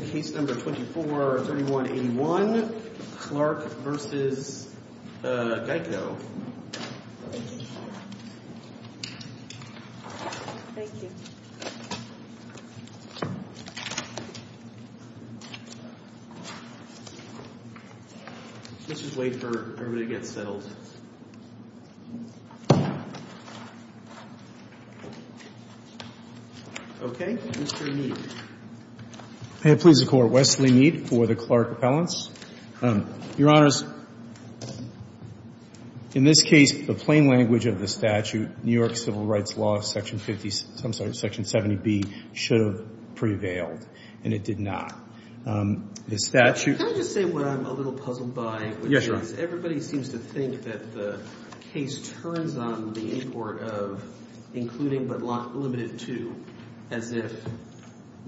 Case No. 24-3181 Clark v. Geico This is the Court. Wesley Mead for the Clark Appellants. Your Honors, in this case, the plain language of the statute, New York Civil Rights Law, Section 50, I'm sorry, Section 70B, should have prevailed, and it did not. The statute – Can I just say what I'm a little puzzled by? Yes, Your Honor. Everybody seems to think that the case turns on the import of including but not limited to, as if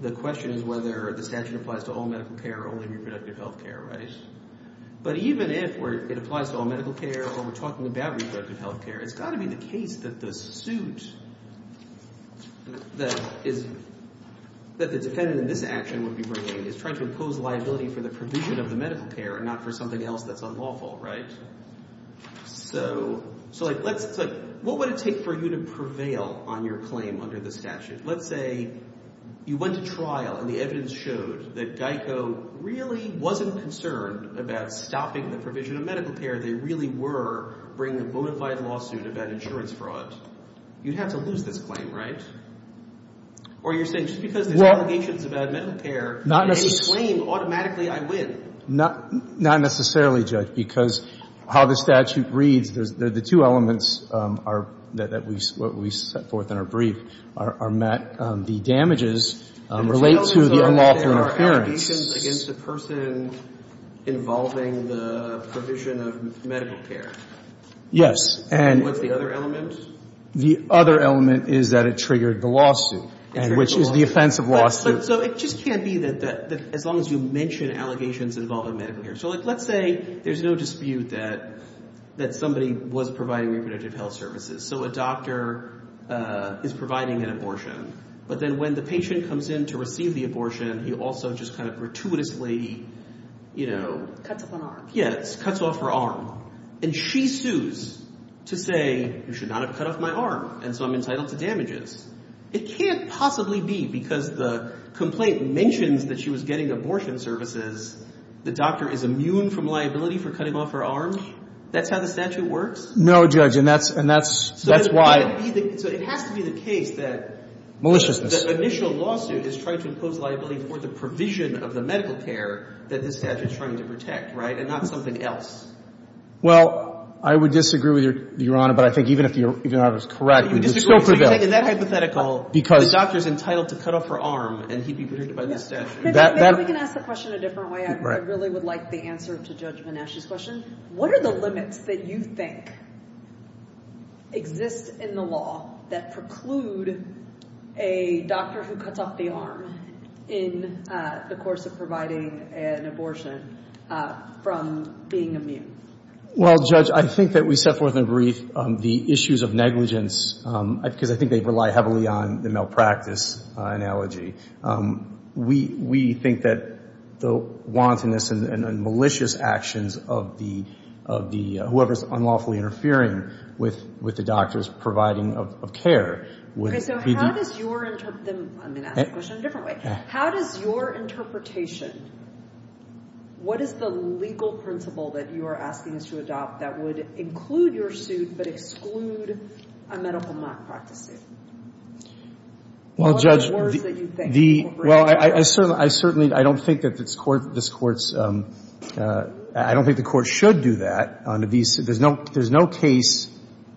the question is whether the statute applies to all medical care or only reproductive health care, right? But even if it applies to all medical care or we're talking about reproductive health care, it's got to be the case that the suit that the defendant in this action would be bringing is trying to impose liability for the provision of the medical care and not for something else that's unlawful, right? So let's – what would it take for you to prevail on your claim under the statute? Let's say you went to trial and the evidence showed that Geico really wasn't concerned about stopping the provision of medical care. They really were bringing a bona fide lawsuit about insurance fraud. You'd have to lose this claim, right? Or you're saying just because there's allegations about medical care, in any claim, automatically I win? Not necessarily, Judge, because how the statute reads, the two elements are – that we – what we set forth in our brief are met. The damages relate to the unlawful interference. The two elements are that there are allegations against a person involving the provision of medical care. Yes. And what's the other element? The other element is that it triggered the lawsuit, which is the offense of lawsuit. So it just can't be that – as long as you mention allegations involving medical care. So let's say there's no dispute that somebody was providing reproductive health services. So a doctor is providing an abortion, but then when the patient comes in to receive the abortion, he also just kind of gratuitously – Cuts off an arm. Yes, cuts off her arm. And she sues to say, you should not have cut off my arm, and so damages. It can't possibly be because the complaint mentions that she was getting abortion services, the doctor is immune from liability for cutting off her arm. That's how the statute works? No, Judge, and that's – and that's – that's why – So it has to be the case that – Maliciousness. The initial lawsuit is trying to impose liability for the provision of the medical care that this statute is trying to protect, right, and not something else. Well, I would disagree with Your Honor, but I think even if the – even if I was correct But you disagree with – It's still prevailed. Is that hypothetical? Because – The doctor is entitled to cut off her arm, and he'd be protected by this statute. That – Maybe we can ask the question a different way. I really would like the answer to Judge Menasche's question. What are the limits that you think exist in the law that preclude a doctor who cuts off the arm in the course of providing an abortion from being immune? Well, Judge, I think that we set forth in a brief the issues of negligence, because I think they rely heavily on the malpractice analogy. We think that the wantonness and malicious actions of the – of the – whoever is unlawfully interfering with the doctor's providing of care would be the – Okay. So how does your – I'm going to ask the question a different way. Okay. What is your interpretation? What is the legal principle that you are asking us to adopt that would include your suit but exclude a medical malpractice suit? Well, Judge, the – What are the words that you think incorporate that? Well, I certainly – I don't think that this Court's – I don't think the Court should do that on a – there's no case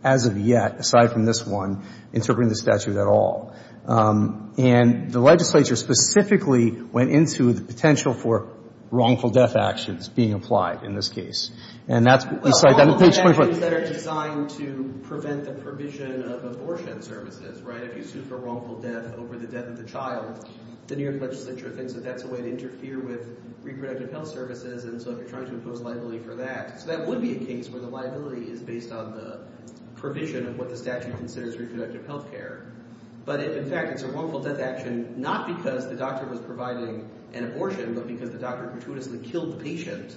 as of yet, aside from this one, interpreting the statute at all. And the legislature specifically went into the potential for wrongful death actions being applied in this case. And that's – Well, wrongful death is better designed to prevent the provision of abortion services, right? If you sue for wrongful death over the death of the child, the New York legislature thinks that that's a way to interfere with reproductive health services, and so if you're trying to impose liability for that – so that would be a case where the liability is based on the provision of what the statute considers reproductive health care. But if, in fact, it's a wrongful death action not because the doctor was providing an abortion, but because the doctor gratuitously killed the patient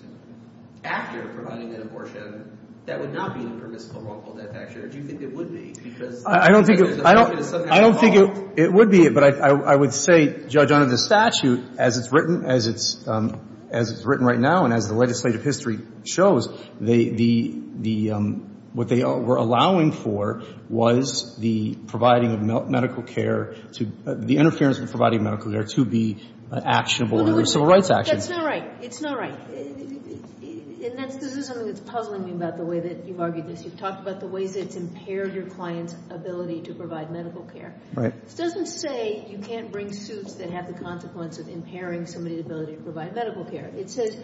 after providing an abortion, that would not be a permissible wrongful death action. Or do you think it would be? Because – I don't think – I don't think it would be, but I would say, Judge, under the statute, as it's written, as it's written right now and as the legislative history shows, the – the – what they were allowing for was the providing of medical care to – the interference with providing medical care to be actionable under civil rights actions. That's not right. It's not right. And that's – this is something that's puzzling me about the way that you've argued this. You've talked about the ways that it's impaired your client's ability to provide medical care. Right. This doesn't say you can't bring suits that have the consequence of impairing somebody's ability to provide medical care. It says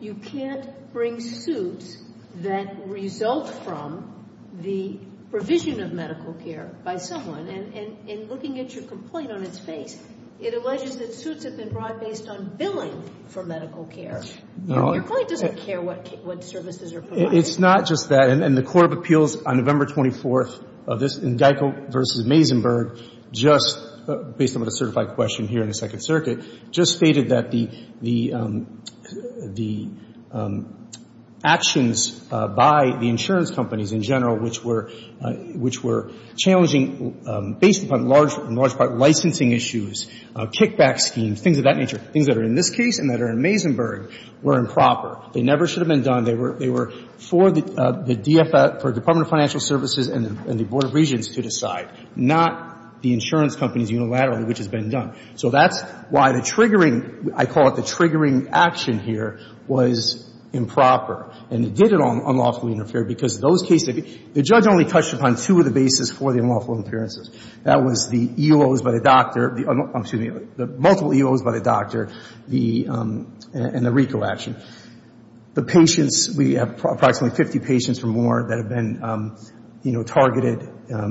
you can't bring suits that result from the provision of medical care by someone. And – and looking at your complaint on its face, it alleges that suits have been brought based on billing for medical care. No. Your client doesn't care what – what services are provided. It's not just that. And the court of appeals on November 24th of this – in Geico v. Mazenberg, just based on the certified question here in the Second Circuit, just stated that the – the actions by the insurance companies in general which were – which were challenging based upon large – large part licensing issues, kickback schemes, things of that nature, things that are in this case and that are in Mazenberg were improper. They never should have been done. They were – they were for the DFF – for Department of Financial Services and the Board of Regents to decide, not the insurance companies unilaterally which has been done. So that's why the triggering – I call it the triggering action here was improper. And it did unlawfully interfere because those cases – the judge only touched upon two of the bases for the unlawful appearances. That was the EOs by the doctor – I'm sorry, the multiple EOs by the doctor, the – and the RICO action. The patients – we have approximately 50 patients or more that have been, you know, targeted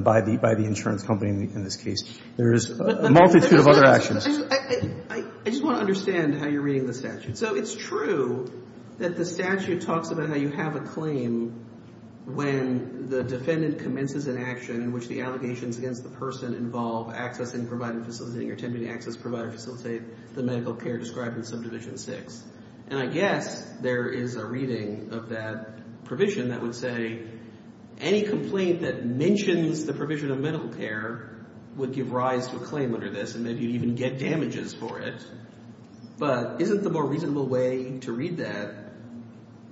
by the – by the insurance company in this case. There is a multitude of other actions. I just want to understand how you're reading the statute. So it's true that the statute talks about how you have a claim when the defendant commences an action in which the allegations against the person involve accessing, providing, facilitating, or attempting to access, provide, or facilitate the medical care described in Subdivision 6. And I guess there is a reading of that provision that would say any complaint that mentions the provision of medical care would give rise to a claim under this and maybe even get damages for it. But isn't the more reasonable way to read that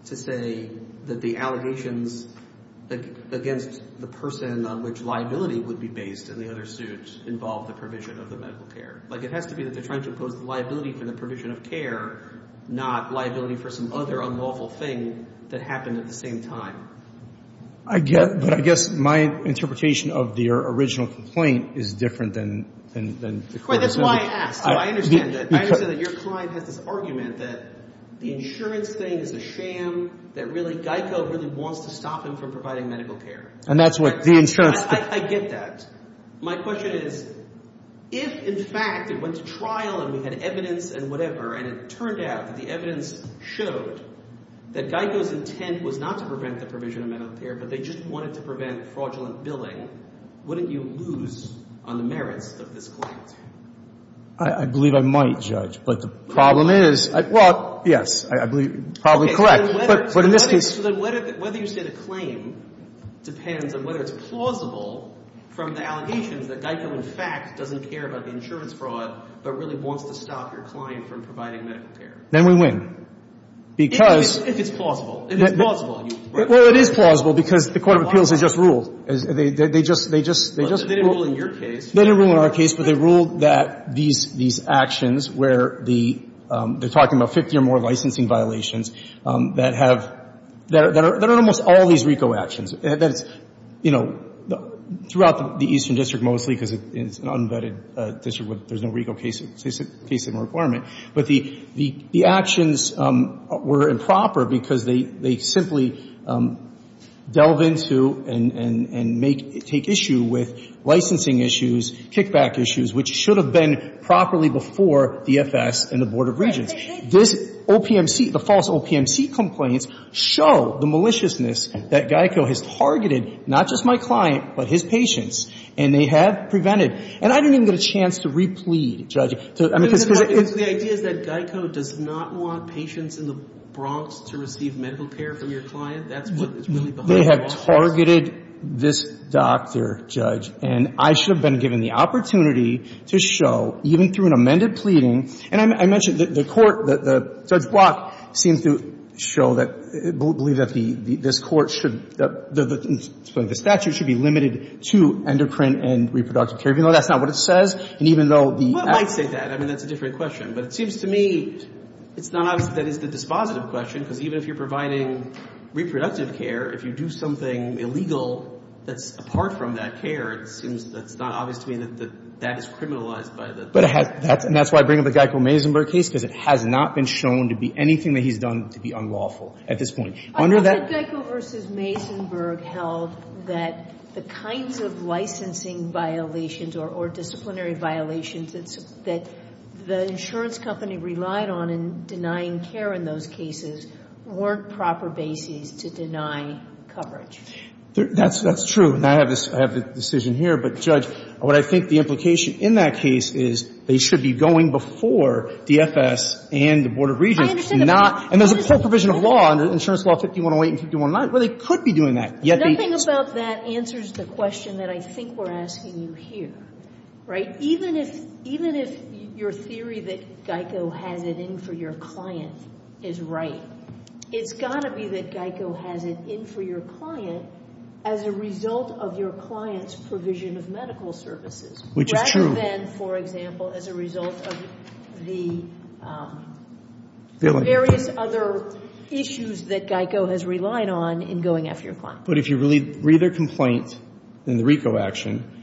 to say that the allegations against the person on which liability would be based in the other suit involve the provision of the medical care? Like it has to be that they're trying to impose the liability for the provision of care, not liability for some other unlawful thing that happened at the same time. I get – but I guess my interpretation of the original complaint is different than the current. That's why I asked. I understand that. I understand that your client has this argument that the insurance thing is a sham, that really GEICO really wants to stop him from providing medical care. And that's what the insurance – I get that. My question is if, in fact, it went to trial and we had evidence and whatever and it turned out that the evidence showed that GEICO's intent was not to prevent the provision of medical care, but they just wanted to prevent fraudulent billing, wouldn't you lose on the merits of this claim? I believe I might, Judge. But the problem is – well, yes, I believe you're probably correct. But in this case – So then whether you say the claim depends on whether it's plausible from the allegations that GEICO, in fact, doesn't care about the insurance fraud, but really wants to stop your client from providing medical care. Then we win. Because – If it's plausible. If it's plausible. Well, it is plausible because the court of appeals has just ruled. They just – they just – they just ruled – They didn't rule in your case. They didn't rule in our case, but they ruled that these actions where the – they're We're talking about 50 or more licensing violations that have – that are almost all these RICO actions. That it's, you know, throughout the Eastern District mostly because it's an unvetted district where there's no RICO case in requirement. But the actions were improper because they simply delve into and make – take issue with licensing issues, kickback issues, which should have been properly before the FS and the Board of Regents. This OPMC – the false OPMC complaints show the maliciousness that GEICO has targeted not just my client, but his patients, and they have prevented. And I didn't even get a chance to replead, Judge. I mean, because – The idea is that GEICO does not want patients in the Bronx to receive medical care from your client. That's what is really behind the lawsuits. They have targeted this doctor, Judge. And I should have been given the opportunity to show, even through an amended pleading – and I mentioned the court – Judge Block seems to show that – believe that this court should – the statute should be limited to endocrine and reproductive care, even though that's not what it says. And even though the – Well, I might say that. I mean, that's a different question. But it seems to me it's not obvious that that is the dispositive question, because even if you're providing reproductive care, if you do something illegal that's apart from that care, it seems that's not obvious to me that that is criminalized by the court. But – and that's why I bring up the GEICO-Maisenberg case, because it has not been shown to be anything that he's done to be unlawful at this point. Under that – I thought that GEICO v. Maisenberg held that the kinds of licensing violations or disciplinary violations that the insurance company relied on in denying care in those cases weren't proper bases to deny coverage. That's true. And I have this – I have the decision here. But, Judge, what I think the implication in that case is they should be going before DFS and the Board of Regents, not – and there's a full provision of law under Insurance Law 5108 and 5109 where they could be doing that. Nothing about that answers the question that I think we're asking you here, right? Even if – even if your theory that GEICO has it in for your client is right, it's got to be that GEICO has it in for your client as a result of your client's provision of medical services. Which is true. Rather than, for example, as a result of the various other issues that GEICO has relied on in going after your client. But if you read their complaint in the RICO action,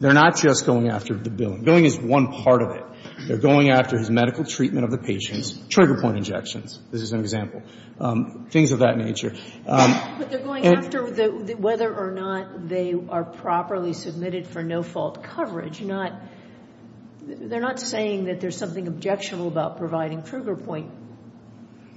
they're not just going after the billing. Billing is one part of it. They're going after his medical treatment of the patients, trigger point injections, this is an example, things of that nature. But they're going after whether or not they are properly submitted for no-fault coverage, not – they're not saying that there's something objectionable about providing trigger point.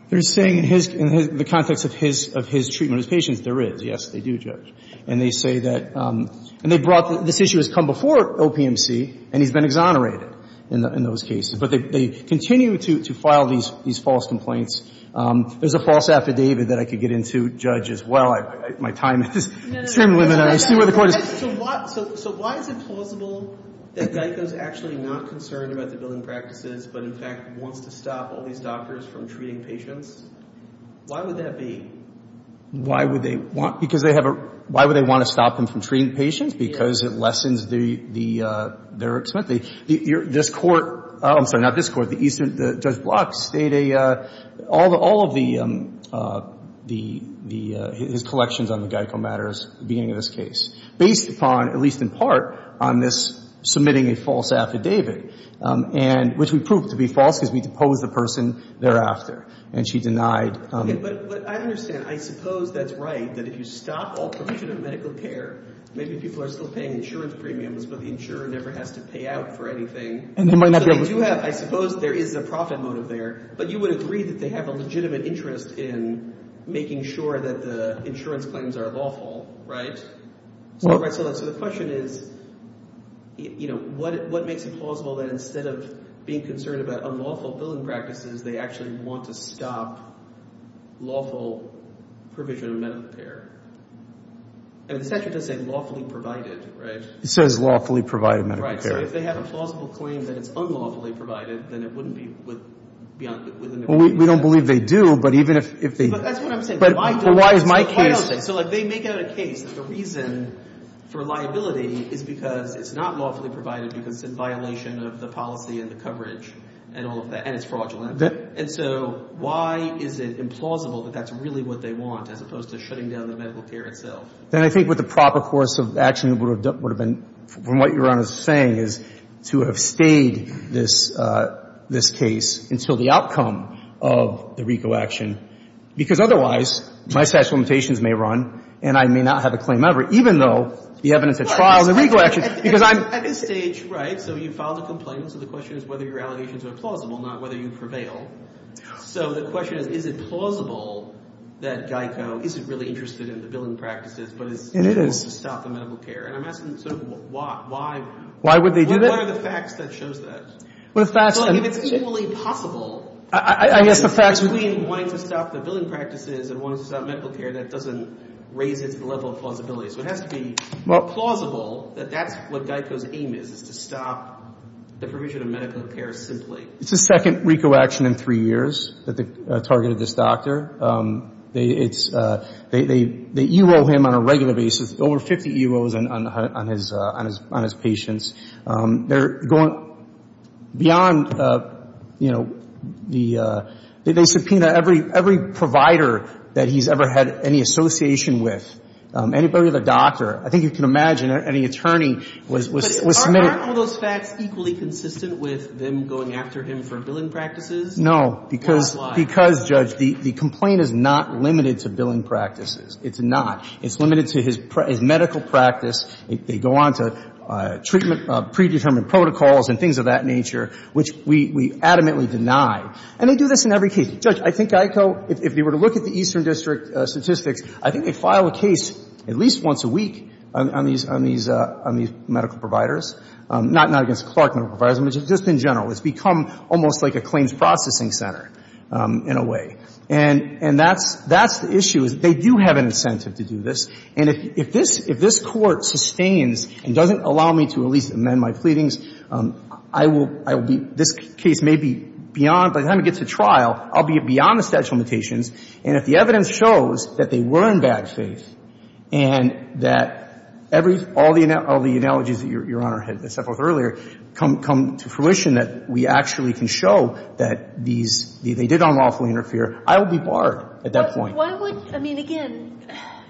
They're saying in his – in the context of his treatment of his patients, there is. Yes, they do, Judge. And they say that – and they brought – this issue has come before OPMC and he's been exonerated in those cases. But they continue to file these false complaints. There's a false affidavit that I could get into, Judge, as well. My time is extremely limited. I see where the Court is. So why is it plausible that GEICO is actually not concerned about the billing practices but, in fact, wants to stop all these doctors from treating patients? Why would that be? Why would they want – because they have a – why would they want to stop them from treating patients? Because it lessens the – their – this Court – I'm sorry, not this Court. The Eastern – Judge Block stated a – all of the – his collections on the GEICO matters at the beginning of this case, based upon, at least in part, on this submitting a false affidavit, and – which we proved to be false because we deposed the person thereafter. And she denied – But I understand. I suppose that's right, that if you stop all provision of medical care, maybe people are still paying insurance premiums, but the insurer never has to pay out for anything. And they might not be able to – Because you have – I suppose there is a profit motive there, but you would agree that they have a legitimate interest in making sure that the insurance claims are lawful, right? So the question is, you know, what makes it plausible that instead of being concerned about unlawful billing practices, they actually want to stop lawful provision of medical care? And the statute doesn't say lawfully provided, right? It says lawfully provided medical care. So if they have a plausible claim that it's unlawfully provided, then it wouldn't be beyond – Well, we don't believe they do, but even if they – But that's what I'm saying. But why is my case – But why is my case – So, like, they make out a case that the reason for liability is because it's not lawfully provided because it's in violation of the policy and the coverage and all of that, and it's fraudulent. And so why is it implausible that that's really what they want, as opposed to shutting down the medical care itself? Then I think what the proper course of action would have been, from what Your Honor's saying, is to have stayed this case until the outcome of the RICO action, because otherwise my statute of limitations may run and I may not have a claim ever, even though the evidence at trial and the RICO action, because I'm – At this stage, right, so you filed a complaint, so the question is whether your allegations are plausible, not whether you prevail. So the question is, is it plausible that GEICO isn't really interested in the billing practices, but is – And it is. – willing to stop the medical care? And I'm asking, sort of, why? Why would they do that? What are the facts that shows that? What are the facts that – Well, if it's equally possible – I guess the facts – Between wanting to stop the billing practices and wanting to stop medical care, that doesn't raise it to the level of plausibility. So it has to be plausible that that's what GEICO's aim is, is to stop the provision of medical care simply. It's the second RICO action in three years that they've targeted this doctor. It's – they ERO him on a regular basis, over 50 EROs on his patients. They're going beyond, you know, the – they subpoena every provider that he's ever had any association with, anybody with a doctor. I think you can imagine any attorney was submitted – Aren't all those facts equally consistent with them going after him for billing practices? No, because – Or why? Because, Judge, the complaint is not limited to billing practices. It's not. It's limited to his medical practice. They go on to treatment – predetermined protocols and things of that nature, which we adamantly deny. And they do this in every case. Judge, I think GEICO, if they were to look at the Eastern District statistics, I think they file a case at least once a week on these – on these medical providers, not against Clark Medical Providers, but just in general. It's become almost like a claims processing center in a way. And that's the issue, is they do have an incentive to do this. And if this Court sustains and doesn't allow me to at least amend my pleadings, I will be – this case may be beyond – by the time it gets to trial, I'll be beyond the statute of limitations. And if the evidence shows that they were in bad faith and that every – all the analogies that Your Honor had set forth earlier come to fruition, that we actually can show that these – they did unlawfully interfere, I will be barred at that point. But why would – I mean, again,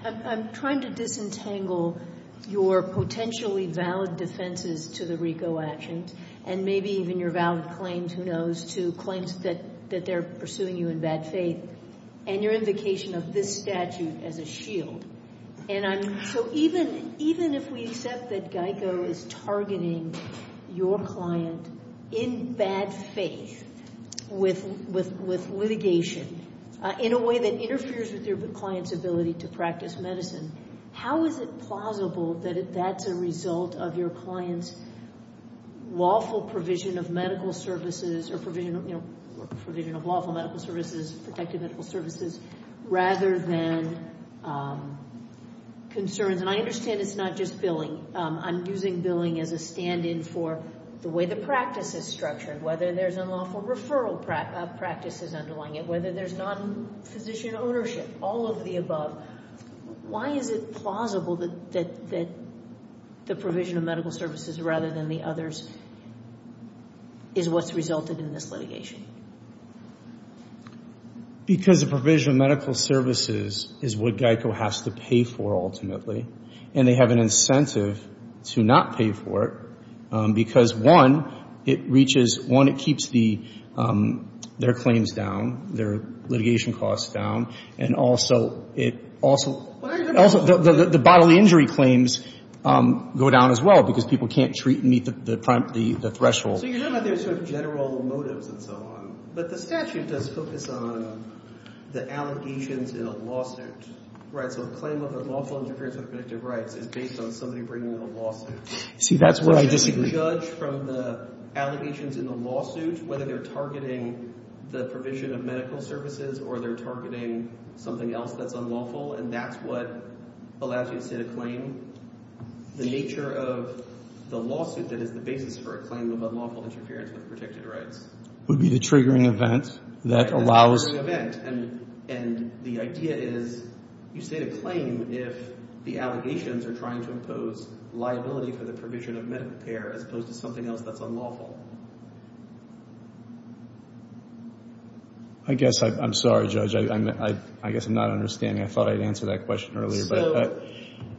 I'm trying to disentangle your potentially valid defenses to the RICO actions and maybe even your valid claims, who knows, to claims that they're pursuing you in bad faith, and your invocation of this statute as a shield. And I'm – so even if we accept that GEICO is targeting your client in bad faith with litigation in a way that interferes with your client's ability to practice medicine, how is it plausible that that's a result of your client's lawful provision of medical services or provision of lawful medical services, protective medical services, rather than concerns? And I understand it's not just billing. I'm using billing as a stand-in for the way the practice is structured, whether there's unlawful referral practices underlying it, whether there's non-physician ownership, all of the above. Why is it plausible that the provision of medical services rather than the others is what's resulted in this litigation? Because the provision of medical services is what GEICO has to pay for, ultimately, and they have an incentive to not pay for it because, one, it reaches – one, it keeps their claims down, their litigation costs down. And also, it also – the bodily injury claims go down as well because people can't treat and meet the threshold. So you're talking about there's sort of general motives and so on, but the statute does focus on the allegations in a lawsuit, right? So a claim of unlawful interference with protective rights is based on somebody bringing in a lawsuit. See, that's where I disagree. Judged from the allegations in the lawsuit, whether they're targeting the provision of medical services or they're targeting something else that's unlawful, and that's what allows you to sit a claim, the nature of the lawsuit that is the basis for a claim of unlawful interference with protected rights. Would be the triggering event that allows – And the idea is you sit a claim if the allegations are trying to impose liability for the provision of medical care as opposed to something else that's unlawful. I guess I'm sorry, Judge. I guess I'm not understanding. I thought I had answered that question earlier. So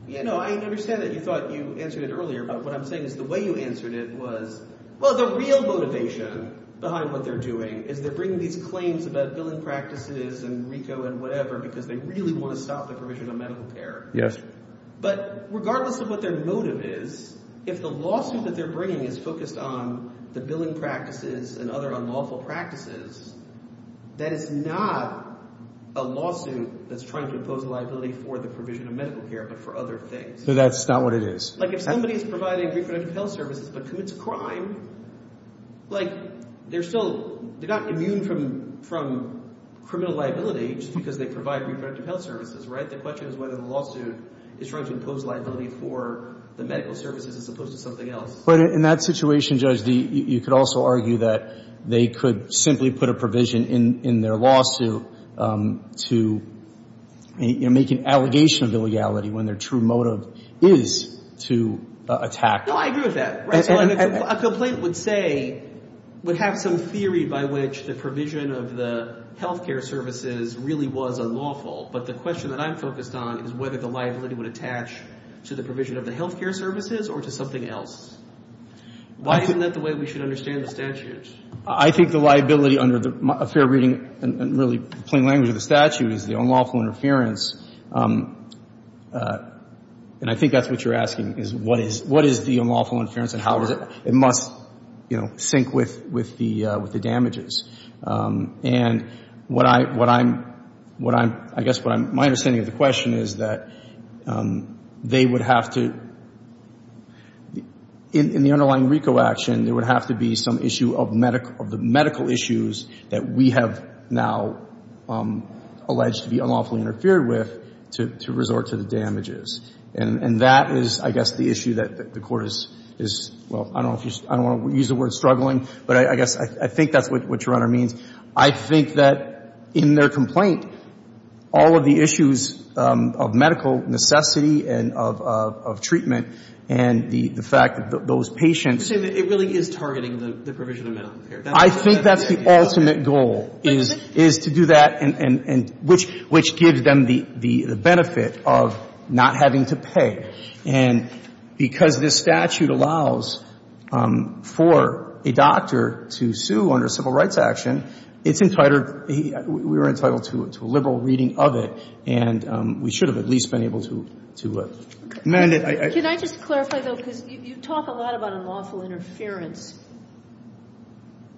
I understand that you thought you answered it earlier, but what I'm saying is the way you answered it was, well, the real motivation behind what they're doing is they're bringing these claims about billing practices and RICO and whatever because they really want to stop the provision of medical care. Yes. But regardless of what their motive is, if the lawsuit that they're bringing is focused on the billing practices and other unlawful practices, that is not a lawsuit that's trying to impose liability for the provision of medical care but for other things. So that's not what it is. Like if somebody is providing reproductive health services but commits a crime, like they're still – they're not immune from criminal liability just because they provide reproductive health services, right? The question is whether the lawsuit is trying to impose liability for the medical services as opposed to something else. But in that situation, Judge, you could also argue that they could simply put a provision in their lawsuit to make an allegation of illegality when their true motive is to attack. No, I agree with that. A complaint would say – would have some theory by which the provision of the health care services really was unlawful. But the question that I'm focused on is whether the liability would attach to the provision of the health care services or to something else. Why isn't that the way we should understand the statute? I think the liability under a fair reading and really plain language of the statute is the unlawful interference. And I think that's what you're asking, is what is the unlawful interference and how does it – it must, you know, sync with the damages. And what I'm – I guess my understanding of the question is that they would have to – in the underlying RICO action, there would have to be some issue of the medical issues that we have now alleged to be unlawfully interfered with to resort to the damages. And that is, I guess, the issue that the Court is – well, I don't want to use the word struggling, but I guess I think that's what your Honor means. I think that in their complaint, all of the issues of medical necessity and of treatment and the fact that those patients So you're saying that it really is targeting the provision of medical care. I think that's the ultimate goal, is to do that and – which gives them the benefit of not having to pay. And because this statute allows for a doctor to sue under civil rights action, it's entitled – we were entitled to a liberal reading of it, and we should have at least been able to amend it. Can I just clarify, though, because you talk a lot about unlawful interference,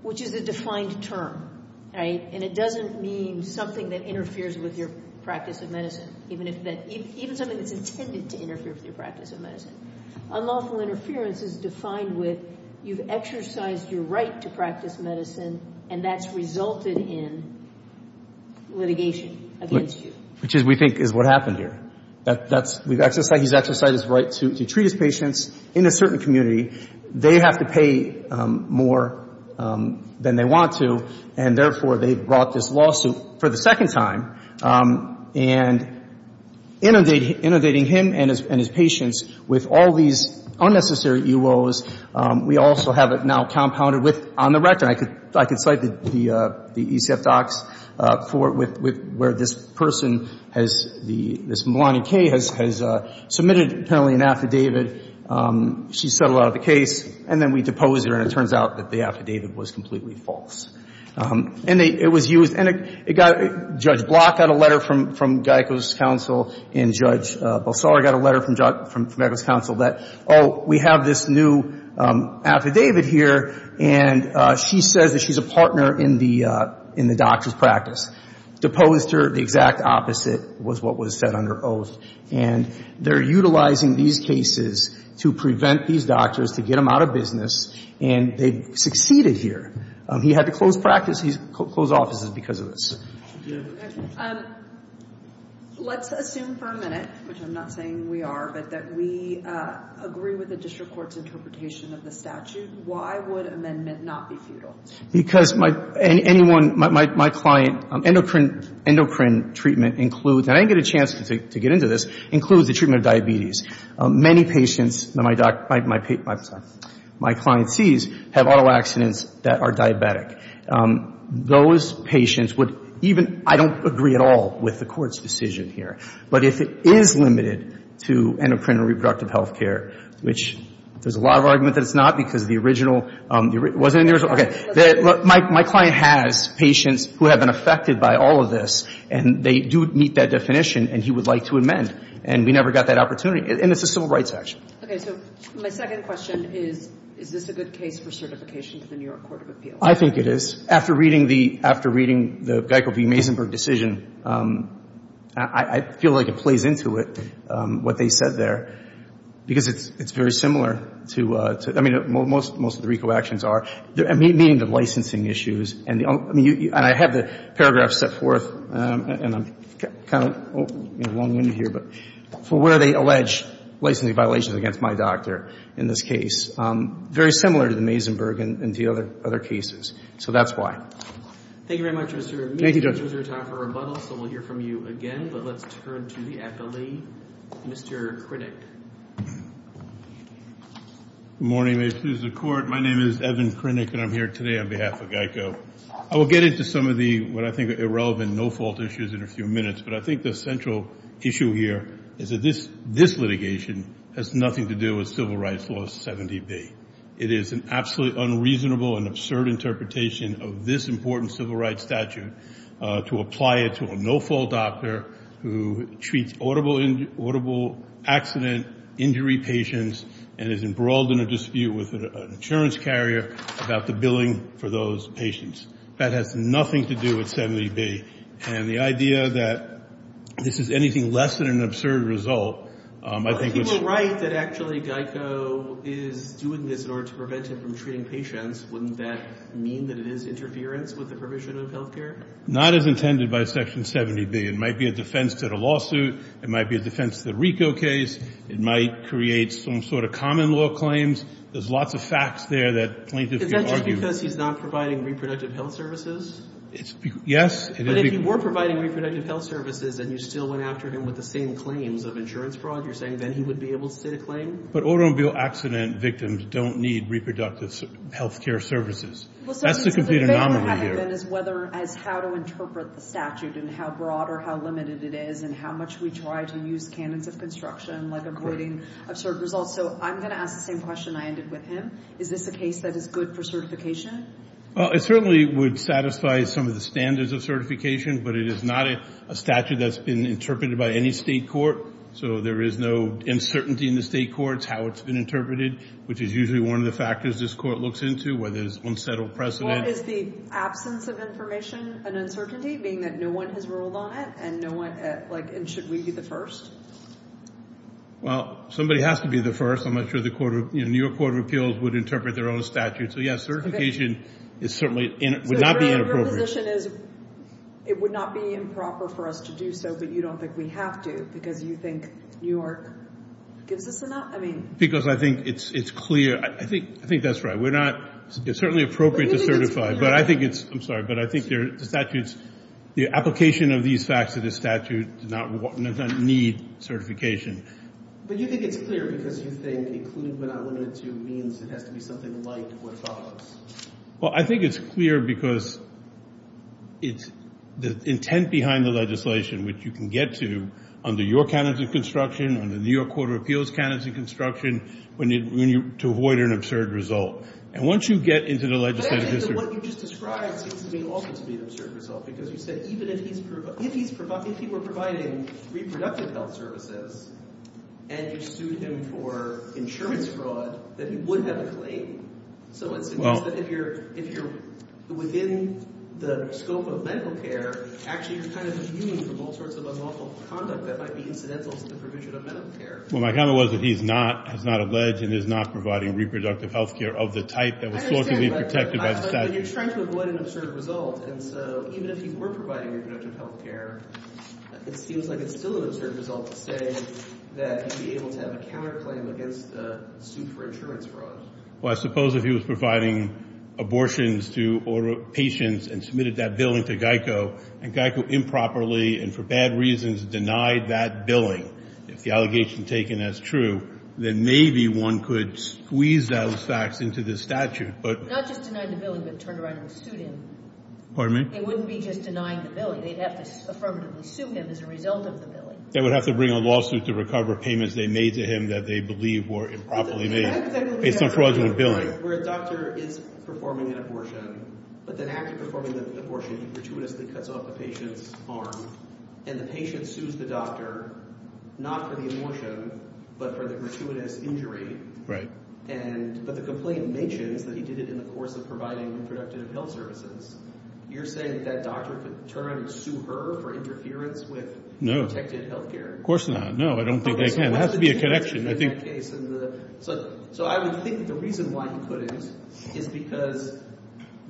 which is a defined term, right? And it doesn't mean something that interferes with your practice of medicine, even if that – even something that's intended to interfere with your practice of medicine. Unlawful interference is defined with you've exercised your right to practice medicine, and that's resulted in litigation against you. Which is, we think, is what happened here. That's – we've exercised – he's exercised his right to treat his patients in a certain community. They have to pay more than they want to, and therefore, they've brought this lawsuit for the second time. And inundating him and his patients with all these unnecessary UOs, we also have it now compounded with on the record. And I could cite the ECF docs for – where this person has the – this Melanie Kay has submitted apparently an affidavit. She's settled out of the case. And then we deposed her, and it turns out that the affidavit was completely false. And it was used – and it got – Judge Block got a letter from Geico's counsel, and Judge Bulsar got a letter from Geico's counsel that, oh, we have this new affidavit here, and she says that she's a partner in the doctor's practice. Deposed her. The exact opposite was what was said under oath. And they're utilizing these cases to prevent these doctors, to get them out of business, and they've succeeded here. He had to close practice. He's closed offices because of this. Let's assume for a minute, which I'm not saying we are, but that we agree with the district court's interpretation of the statute. Why would amendment not be futile? Because my – anyone – my client – endocrine treatment includes – and I didn't get a chance to get into this – includes the treatment of diabetes. Many patients that my client sees have auto accidents that are diabetic. Those patients would even – I don't agree at all with the Court's decision here. But if it is limited to endocrine and reproductive health care, which there's a lot of argument that it's not because the original – it wasn't in the original – okay. My client has patients who have been affected by all of this, and they do meet that definition, and he would like to amend. And we never got that opportunity. And it's a civil rights action. Okay. So my second question is, is this a good case for certification to the New York Court of Appeals? I think it is. After reading the – after reading the Geico v. Maisenberg decision, I feel like it plays into it, what they said there, because it's very similar to – I mean, most of the RICO actions are. I mean, the licensing issues and the – I mean, and I have the paragraph set forth, and I'm kind of long-winded here, but for where they allege licensing violations against my doctor in this case. Very similar to the Maisenberg and to the other cases. So that's why. Thank you very much, Mr. Amin. Thank you, Judge. This is your time for rebuttal, so we'll hear from you again. But let's turn to the appellee, Mr. Krennic. Good morning. May it please the Court. My name is Evan Krennic, and I'm here today on behalf of Geico. I will get into some of the – what I think are irrelevant, no-fault issues in a few minutes, but I think the central issue here is that this litigation has nothing to do with Civil Rights Law 70B. It is an absolutely unreasonable and absurd interpretation of this important civil rights statute to apply it to a no-fault doctor who treats audible accident injury patients and is embroiled in a dispute with an insurance carrier about the billing for those patients. That has nothing to do with 70B. And the idea that this is anything less than an absurd result, I think was – If you think that actually Geico is doing this in order to prevent him from treating patients, wouldn't that mean that it is interference with the provision of health care? Not as intended by Section 70B. It might be a defense to the lawsuit. It might be a defense to the RICO case. It might create some sort of common law claims. There's lots of facts there that plaintiffs can argue. Is that just because he's not providing reproductive health services? Yes. But if you were providing reproductive health services and you still went after him with the same claims of insurance fraud, you're saying then he would be able to sit a claim? But automobile accident victims don't need reproductive health care services. That's the complete anomaly here. Well, so my favorite argument is whether as how to interpret the statute and how broad or how limited it is and how much we try to use canons of construction like avoiding absurd results. So I'm going to ask the same question I ended with him. Is this a case that is good for certification? Well, it certainly would satisfy some of the standards of certification, but it is not a statute that's been interpreted by any state court, so there is no uncertainty in the state courts how it's been interpreted, which is usually one of the factors this court looks into where there's unsettled precedent. What is the absence of information an uncertainty, being that no one has ruled on it and should we be the first? Well, somebody has to be the first. I'm not sure the New York Court of Appeals would interpret their own statute. So, yes, certification would not be inappropriate. So your position is it would not be improper for us to do so, but you don't think we have to because you think New York gives us enough? Because I think it's clear. I think that's right. It's certainly appropriate to certify, but I think it's – I'm sorry, but I think the application of these facts to the statute does not need certification. But you think it's clear because you think included but not limited to means it has to be something like what follows. Well, I think it's clear because the intent behind the legislation, which you can get to under your canons of construction, under the New York Court of Appeals canons of construction, when you – to avoid an absurd result. And once you get into the legislative – I think that what you just described seems to me also to be an absurd result because you said even if he's – if he were providing reproductive health services and you sued him for insurance fraud, that he would have a claim. So it seems that if you're within the scope of medical care, actually you're kind of immune from all sorts of unlawful conduct that might be incidental to the provision of medical care. Well, my comment was that he's not – has not alleged and is not providing reproductive health care of the type that was fortunately protected by the statute. I understand, but you're trying to avoid an absurd result. And so even if he were providing reproductive health care, it seems like it's still an absurd result to say that he'd be able to have a counterclaim against the suit for insurance fraud. Well, I suppose if he was providing abortions to patients and submitted that billing to GEICO and GEICO improperly and for bad reasons denied that billing, if the allegation taken as true, then maybe one could squeeze those facts into the statute. Not just denied the billing but turned around and sued him. Pardon me? It wouldn't be just denying the billing. They'd have to affirmatively sue him as a result of the billing. They would have to bring a lawsuit to recover payments they made to him that they believe were improperly made based on fraudulent billing. Where a doctor is performing an abortion, but then after performing the abortion he gratuitously cuts off the patient's arm and the patient sues the doctor not for the abortion but for the gratuitous injury. Right. But the complaint mentions that he did it in the course of providing reproductive health services. You're saying that doctor could turn and sue her for interference with protected health care? No, of course not. No, I don't think they can. There has to be a connection. So I would think the reason why he couldn't is because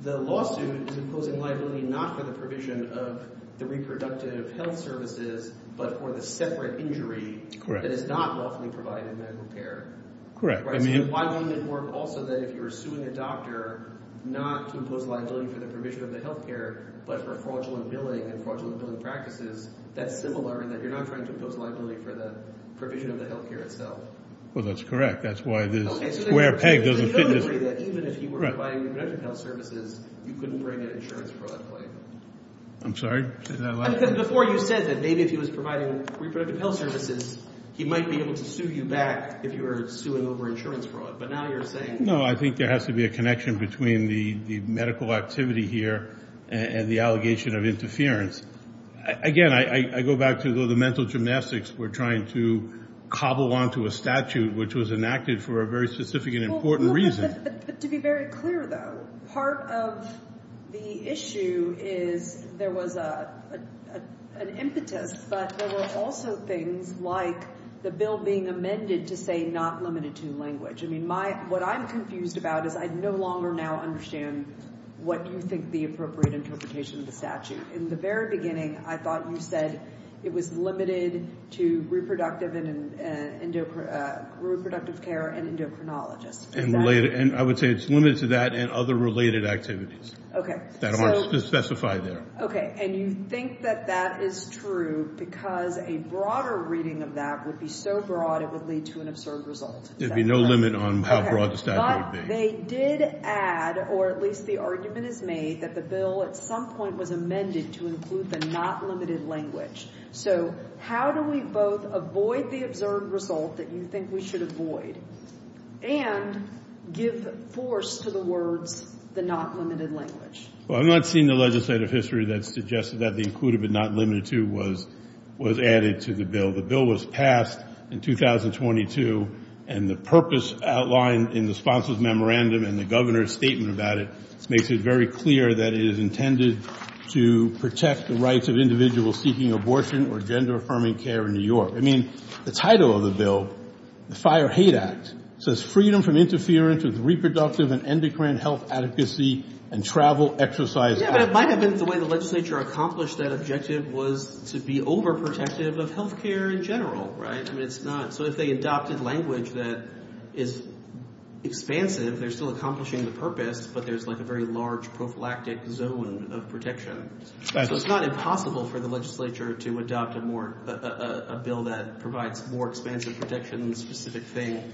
the lawsuit is imposing liability not for the provision of the reproductive health services, but for the separate injury that is not lawfully provided medical care. Correct. So why wouldn't it work also that if you were suing a doctor not to impose liability for the provision of the health care but for fraudulent billing and fraudulent billing practices, that's similar in that you're not trying to impose liability for the provision of the health care itself? Well, that's correct. That's why this square peg doesn't fit. So you don't agree that even if he were providing reproductive health services, you couldn't bring an insurance fraud claim? I'm sorry? Before you said that maybe if he was providing reproductive health services, he might be able to sue you back if you were suing over insurance fraud. But now you're saying? No, I think there has to be a connection between the medical activity here and the allegation of interference. Again, I go back to the mental gymnastics we're trying to cobble onto a statute which was enacted for a very specific and important reason. But to be very clear, though, part of the issue is there was an impetus, but there were also things like the bill being amended to say not limited to language. I mean, what I'm confused about is I no longer now understand what you think the appropriate interpretation of the statute. In the very beginning, I thought you said it was limited to reproductive care and endocrinologists. I would say it's limited to that and other related activities that aren't specified there. Okay. And you think that that is true because a broader reading of that would be so broad it would lead to an absurd result. There would be no limit on how broad the statute would be. They did add, or at least the argument is made, that the bill at some point was amended to include the not limited language. So how do we both avoid the absurd result that you think we should avoid and give force to the words the not limited language? Well, I'm not seeing the legislative history that suggests that the included but not limited to was added to the bill. The bill was passed in 2022, and the purpose outlined in the sponsor's memorandum and the governor's statement about it makes it very clear that it is intended to protect the rights of individuals seeking abortion or gender-affirming care in New York. I mean, the title of the bill, the Fire Hate Act, says freedom from interference with reproductive and endocrine health adequacy and travel, exercise. Yeah, but it might have been the way the legislature accomplished that objective was to be overprotective of health care in general, right? I mean, it's not. So if they adopted language that is expansive, they're still accomplishing the purpose, but there's like a very large prophylactic zone of protection. So it's not impossible for the legislature to adopt a bill that provides more expansive protection than the specific thing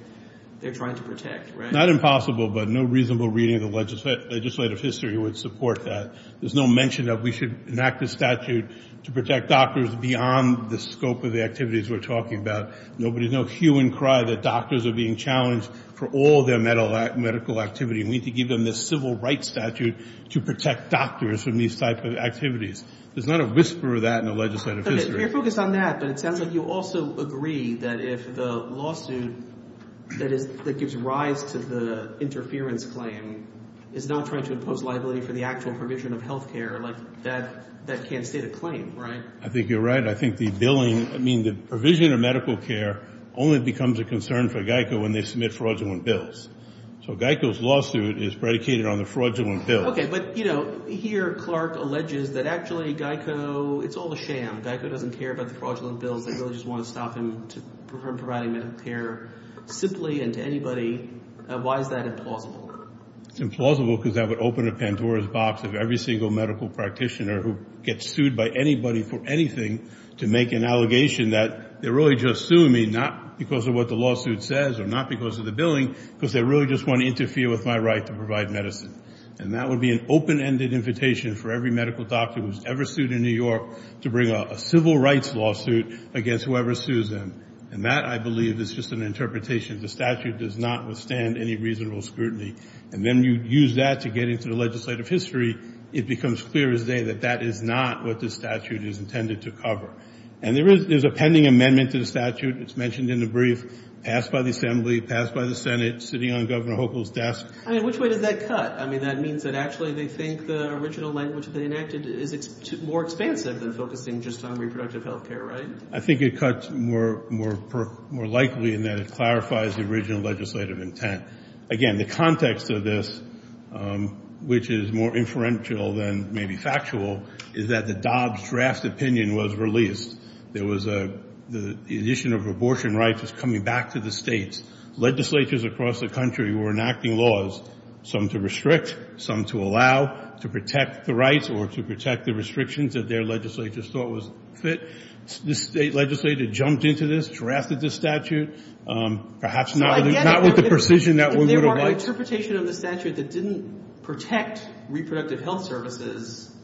they're trying to protect, right? Not impossible, but no reasonable reading of the legislative history would support that. There's no mention that we should enact a statute to protect doctors beyond the scope of the activities we're talking about. There's no hue and cry that doctors are being challenged for all their medical activity, and we need to give them this civil rights statute to protect doctors from these types of activities. There's not a whisper of that in the legislative history. Okay, you're focused on that, but it sounds like you also agree that if the lawsuit that gives rise to the interference claim is not trying to impose liability for the actual provision of health care, like that can't state a claim, right? I think you're right. I think the billing—I mean the provision of medical care only becomes a concern for Geico when they submit fraudulent bills. So Geico's lawsuit is predicated on the fraudulent bill. Okay, but here Clark alleges that actually Geico—it's all a sham. Geico doesn't care about the fraudulent bills. They really just want to stop him from providing medical care simply and to anybody. Why is that implausible? It's implausible because that would open a Pandora's box of every single medical practitioner who gets sued by anybody for anything to make an allegation that they're really just suing me, not because of what the lawsuit says or not because of the billing, because they really just want to interfere with my right to provide medicine. And that would be an open-ended invitation for every medical doctor who was ever sued in New York to bring a civil rights lawsuit against whoever sues them. And that, I believe, is just an interpretation. The statute does not withstand any reasonable scrutiny. And then you use that to get into the legislative history. It becomes clear as day that that is not what the statute is intended to cover. And there is a pending amendment to the statute. It's mentioned in the brief, passed by the Assembly, passed by the Senate, sitting on Governor Hochul's desk. Which way does that cut? I mean, that means that actually they think the original language they enacted is more expansive than focusing just on reproductive health care, right? I think it cuts more likely in that it clarifies the original legislative intent. Again, the context of this, which is more inferential than maybe factual, is that the Dobbs draft opinion was released. The issue of abortion rights was coming back to the states. Legislatures across the country were enacting laws, some to restrict, some to allow, to protect the rights or to protect the restrictions that their legislatures thought was fit. This state legislator jumped into this, drafted this statute. Perhaps not with the precision that we would have liked. If there were an interpretation of the statute that didn't protect reproductive health services,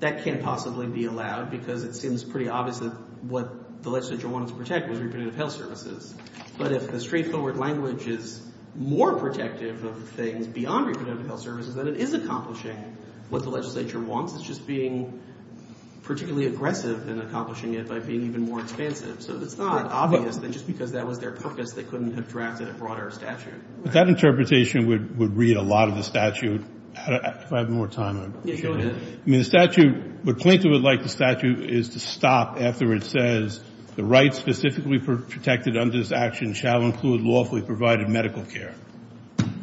that can't possibly be allowed because it seems pretty obvious that what the legislature wanted to protect was reproductive health services. But if the straightforward language is more protective of things beyond reproductive health services, then it is accomplishing what the legislature wants. It's just being particularly aggressive in accomplishing it by being even more expansive. So it's not obvious that just because that was their purpose, they couldn't have drafted a broader statute. But that interpretation would read a lot of the statute. If I have more time, I'm sure I will. I mean, the statute, what Plaintiff would like the statute is to stop after it says, the rights specifically protected under this action shall include lawfully provided medical care.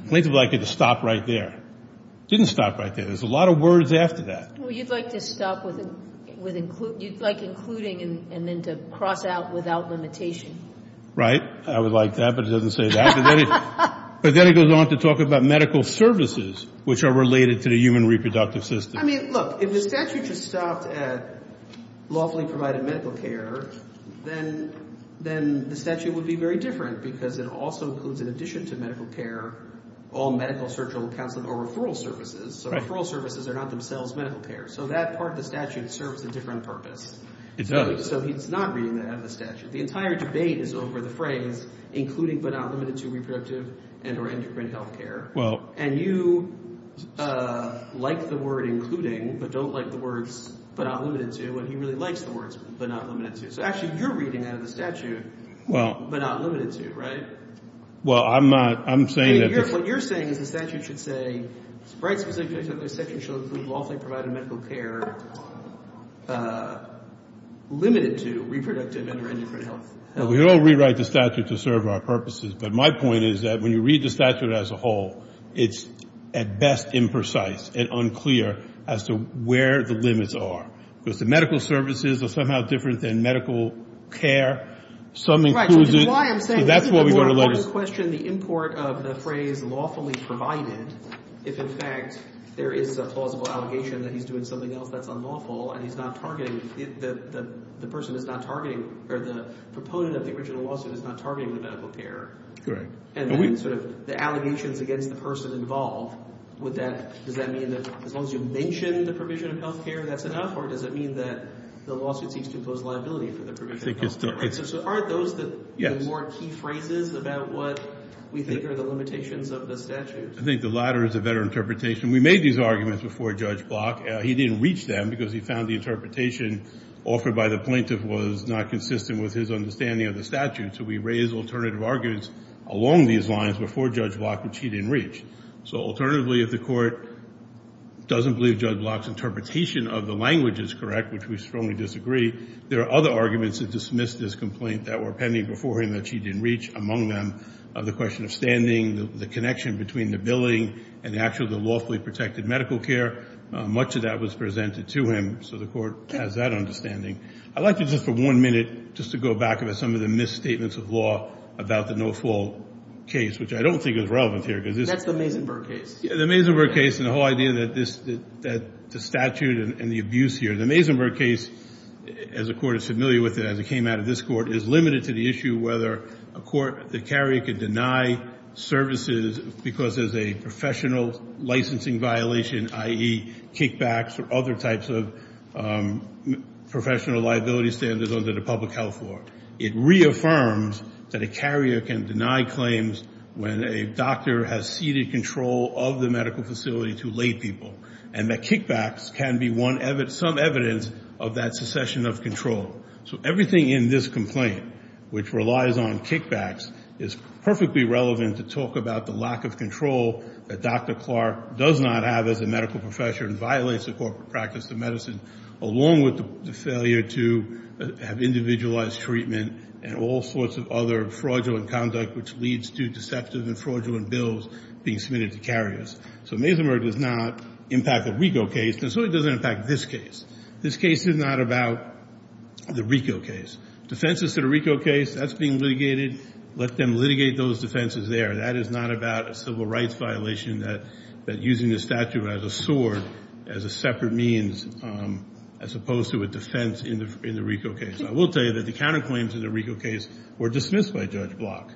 Plaintiff would like it to stop right there. It didn't stop right there. There's a lot of words after that. Well, you'd like to stop with include. You'd like including and then to cross out without limitation. Right. I would like that, but it doesn't say that. But then it goes on to talk about medical services, which are related to the human reproductive system. I mean, look, if the statute just stopped at lawfully provided medical care, then the statute would be very different because it also includes, in addition to medical care, all medical, surgical, counseling, or referral services. So referral services are not themselves medical care. So that part of the statute serves a different purpose. So he's not reading that out of the statute. The entire debate is over the phrase including but not limited to reproductive and or endocrine health care. And you like the word including but don't like the words but not limited to. And he really likes the words but not limited to. So, actually, you're reading out of the statute but not limited to, right? Well, I'm not. I'm saying that. What you're saying is the statute should say, it's very specific that the section should include lawfully provided medical care limited to reproductive and or endocrine health care. Well, we all rewrite the statute to serve our purposes. But my point is that when you read the statute as a whole, it's at best imprecise and unclear as to where the limits are. Because the medical services are somehow different than medical care. Some include it. Which is why I'm saying. That's why we're going to let it. The important question, the import of the phrase lawfully provided, if, in fact, there is a plausible allegation that he's doing something else that's unlawful and he's not targeting the person that's not targeting or the proponent of the original lawsuit is not targeting the medical care. Correct. And then sort of the allegations against the person involved, does that mean that as long as you mention the provision of health care, that's enough? Or does it mean that the lawsuit seeks to impose liability for the provision of health care? So aren't those the more key phrases about what we think are the limitations of the statute? I think the latter is a better interpretation. We made these arguments before Judge Block. He didn't reach them because he found the interpretation offered by the plaintiff was not consistent with his understanding of the statute. So we raised alternative arguments along these lines before Judge Block, which he didn't reach. So alternatively, if the court doesn't believe Judge Block's interpretation of the language is correct, which we strongly disagree, there are other arguments that dismiss this complaint that were pending before him that she didn't reach, among them the question of standing, the connection between the billing and actually the lawfully protected medical care. Much of that was presented to him. So the court has that understanding. I'd like to just for one minute just to go back over some of the misstatements of law about the no-fault case, which I don't think is relevant here. That's the Mazenberg case. The Mazenberg case and the whole idea that the statute and the abuse here. The Mazenberg case, as the Court is familiar with it as it came out of this Court, is limited to the issue whether a court, the carrier, can deny services because there's a professional licensing violation, i.e. kickbacks or other types of professional liability standards under the public health law. It reaffirms that a carrier can deny claims when a doctor has ceded control of the medical facility to lay people and that kickbacks can be some evidence of that secession of control. So everything in this complaint, which relies on kickbacks, is perfectly relevant to talk about the lack of control that Dr. Clark does not have as a medical professor and violates the corporate practice of medicine, along with the failure to have individualized treatment and all sorts of other fraudulent conduct which leads to deceptive and fraudulent bills being submitted to carriers. So Mazenberg does not impact the RICO case, and so it doesn't impact this case. This case is not about the RICO case. Defenses to the RICO case, that's being litigated. Let them litigate those defenses there. That is not about a civil rights violation that using the statute as a sword as a separate means as opposed to a defense in the RICO case. I will tell you that the counterclaims in the RICO case were dismissed by Judge Block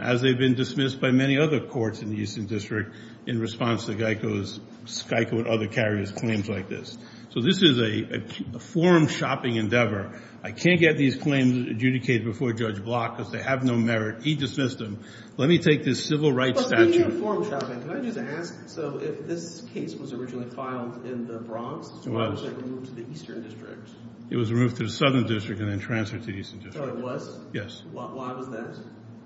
as they've been dismissed by many other courts in the Eastern District in response to Geico's, Skyco and other carriers' claims like this. So this is a form-shopping endeavor. I can't get these claims adjudicated before Judge Block because they have no merit. He dismissed them. Let me take this civil rights statute. But being a form-shopping, can I just ask, so if this case was originally filed in the Bronx, why was it removed to the Eastern District? It was removed to the Southern District and then transferred to the Eastern District. So it was? Yes. Why was that?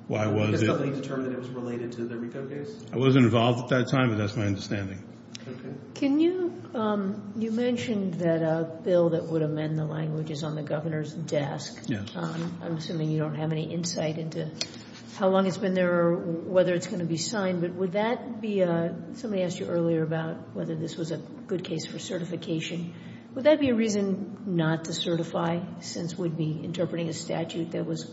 Why was it? Because somebody determined it was related to the RICO case? I wasn't involved at that time, but that's my understanding. Okay. Can you, you mentioned that a bill that would amend the language is on the governor's desk. Yes. I'm assuming you don't have any insight into how long it's been there or whether it's going to be signed. But would that be a, somebody asked you earlier about whether this was a good case for certification. Would that be a reason not to certify since we'd be interpreting a statute that was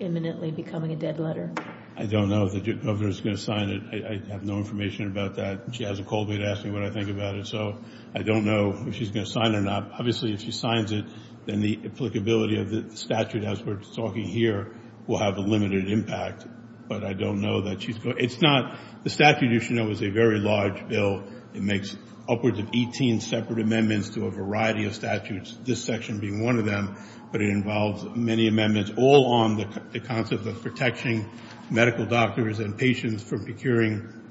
imminently becoming a dead letter? I don't know if the governor's going to sign it. I have no information about that. She hasn't called me to ask me what I think about it. So I don't know if she's going to sign it or not. Obviously, if she signs it, then the applicability of the statute, as we're talking here, will have a limited impact. But I don't know that she's going to. It's not, the statute, you should know, is a very large bill. It makes upwards of 18 separate amendments to a variety of statutes, this section being one of them. But it involves many amendments all on the concept of protecting medical doctors and patients from procuring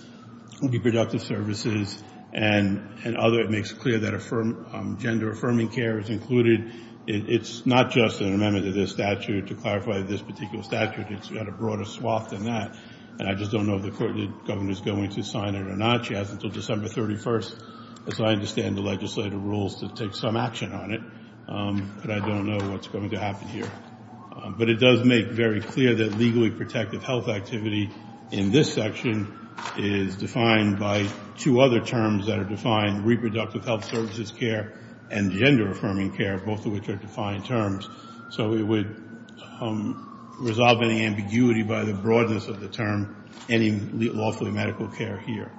reproductive services and other. It makes clear that gender-affirming care is included. It's not just an amendment to this statute. To clarify, this particular statute, it's got a broader swath than that. And I just don't know if the governor's going to sign it or not. She has until December 31st, as I understand the legislative rules, to take some action on it. But I don't know what's going to happen here. But it does make very clear that legally protective health activity in this section is defined by two other terms that are defined, reproductive health services care and gender-affirming care, both of which are defined terms. So it would resolve any ambiguity by the broadness of the term, any lawfully medical care here,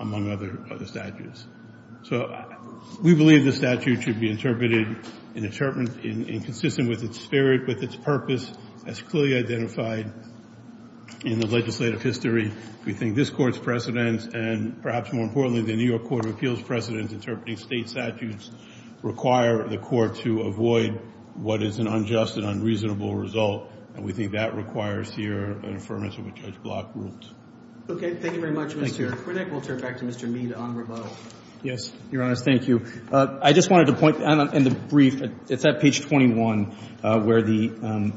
among other statutes. So we believe the statute should be interpreted and consistent with its spirit, with its purpose, as clearly identified in the legislative history. We think this Court's precedents, and perhaps more importantly, the New York Court of Appeals precedents interpreting state statutes, require the Court to avoid what is an unjust and unreasonable result. And we think that requires here an affirmation of Judge Block's rules. Okay. Thank you very much, Mr. Kornick. We'll turn it back to Mr. Mead on rebuttal. Yes, Your Honor. Thank you. I just wanted to point out in the brief, it's at page 21, where the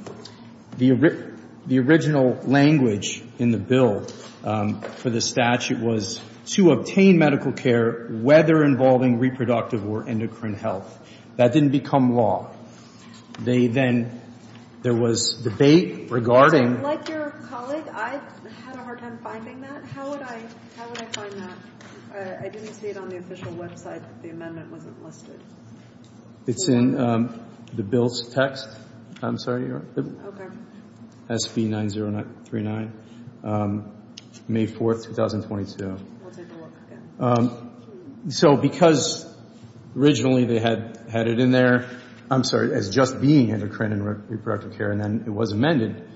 original language in the bill for the statute was to obtain medical care whether involving reproductive or endocrine health. That didn't become law. They then — there was debate regarding — Like your colleague, I had a hard time finding that. How would I find that? I didn't see it on the official website that the amendment wasn't listed. It's in the bill's text. I'm sorry, Your Honor. Okay. SB9039, May 4th, 2022. We'll take a look again. So because originally they had it in there, I'm sorry, as just being endocrine and reproductive care, and then it was amended,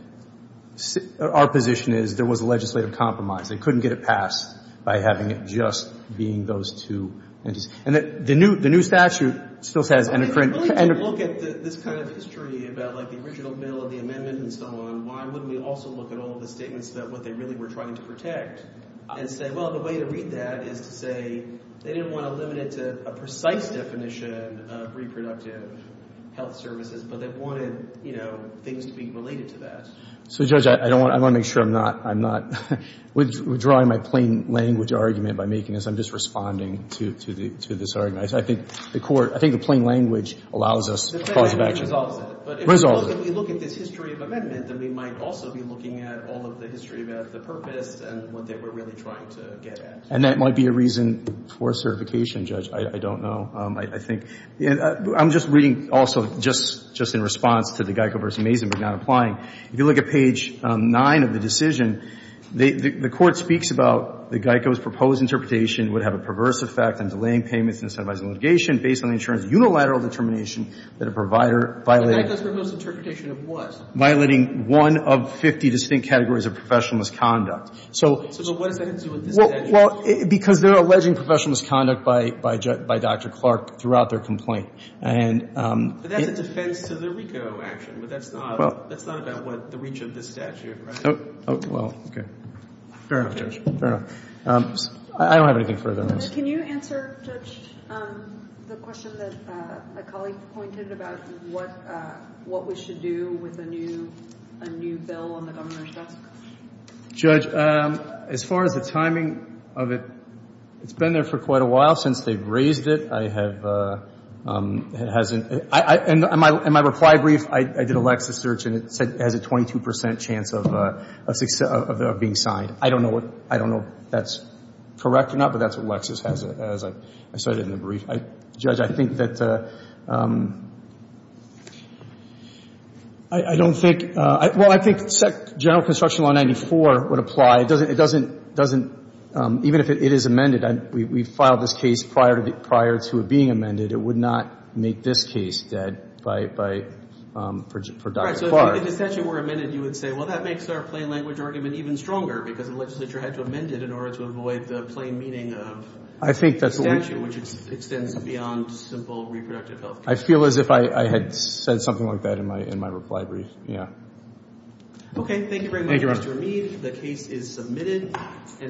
our position is there was a legislative compromise. They couldn't get it passed by having it just being those two entities. And the new statute still says endocrine. If we're going to look at this kind of history about, like, the original bill and the amendment and so on, why wouldn't we also look at all of the statements about what they really were trying to protect and say, well, the way to read that is to say they didn't want to limit it to a precise definition of reproductive health services, but they wanted, you know, things to be related to that. So, Judge, I want to make sure I'm not — I'm not withdrawing my plain language argument by making this. I'm just responding to this argument. I think the court — I think the plain language allows us a cause of action. The amendment resolves it. It resolves it. But if we look at this history of amendment, then we might also be looking at all of the history about the purpose and what they were really trying to get at. And that might be a reason for certification, Judge. I don't know. I think — I'm just reading also just in response to the Geico v. Mazin, but not applying. If you look at page 9 of the decision, the court speaks about the Geico's proposed interpretation would have a perverse effect on delaying payments and incentivizing litigation based on the insurance unilateral determination that a provider violated. The Geico's proposed interpretation of what? Violating one of 50 distinct categories of professional misconduct. So — So what does that have to do with this statute? Well, because they're alleging professional misconduct by Dr. Clark throughout their complaint. And — But that's a defense to the RICO action, but that's not — That's not about what the reach of this statute, right? Well, okay. Fair enough, Judge. Fair enough. I don't have anything further to ask. Can you answer, Judge, the question that a colleague pointed about what we should do with a new bill on the governor's desk? Judge, as far as the timing of it, it's been there for quite a while since they've raised it. And my reply brief, I did a Lexis search, and it said it has a 22 percent chance of being signed. I don't know if that's correct or not, but that's what Lexis has, as I said in the brief. Judge, I think that — I don't think — well, I think General Construction Law 94 would apply. It doesn't — even if it is amended. We filed this case prior to it being amended. It would not make this case dead by — for Dr. Clark. So if the statute were amended, you would say, well, that makes our plain language argument even stronger because the legislature had to amend it in order to avoid the plain meaning of — I think that's what we —— the statute, which extends beyond simple reproductive health care. I feel as if I had said something like that in my reply brief. Yeah. Okay. Thank you very much, Mr. Rameed. Thank you, Your Honor. The case is submitted.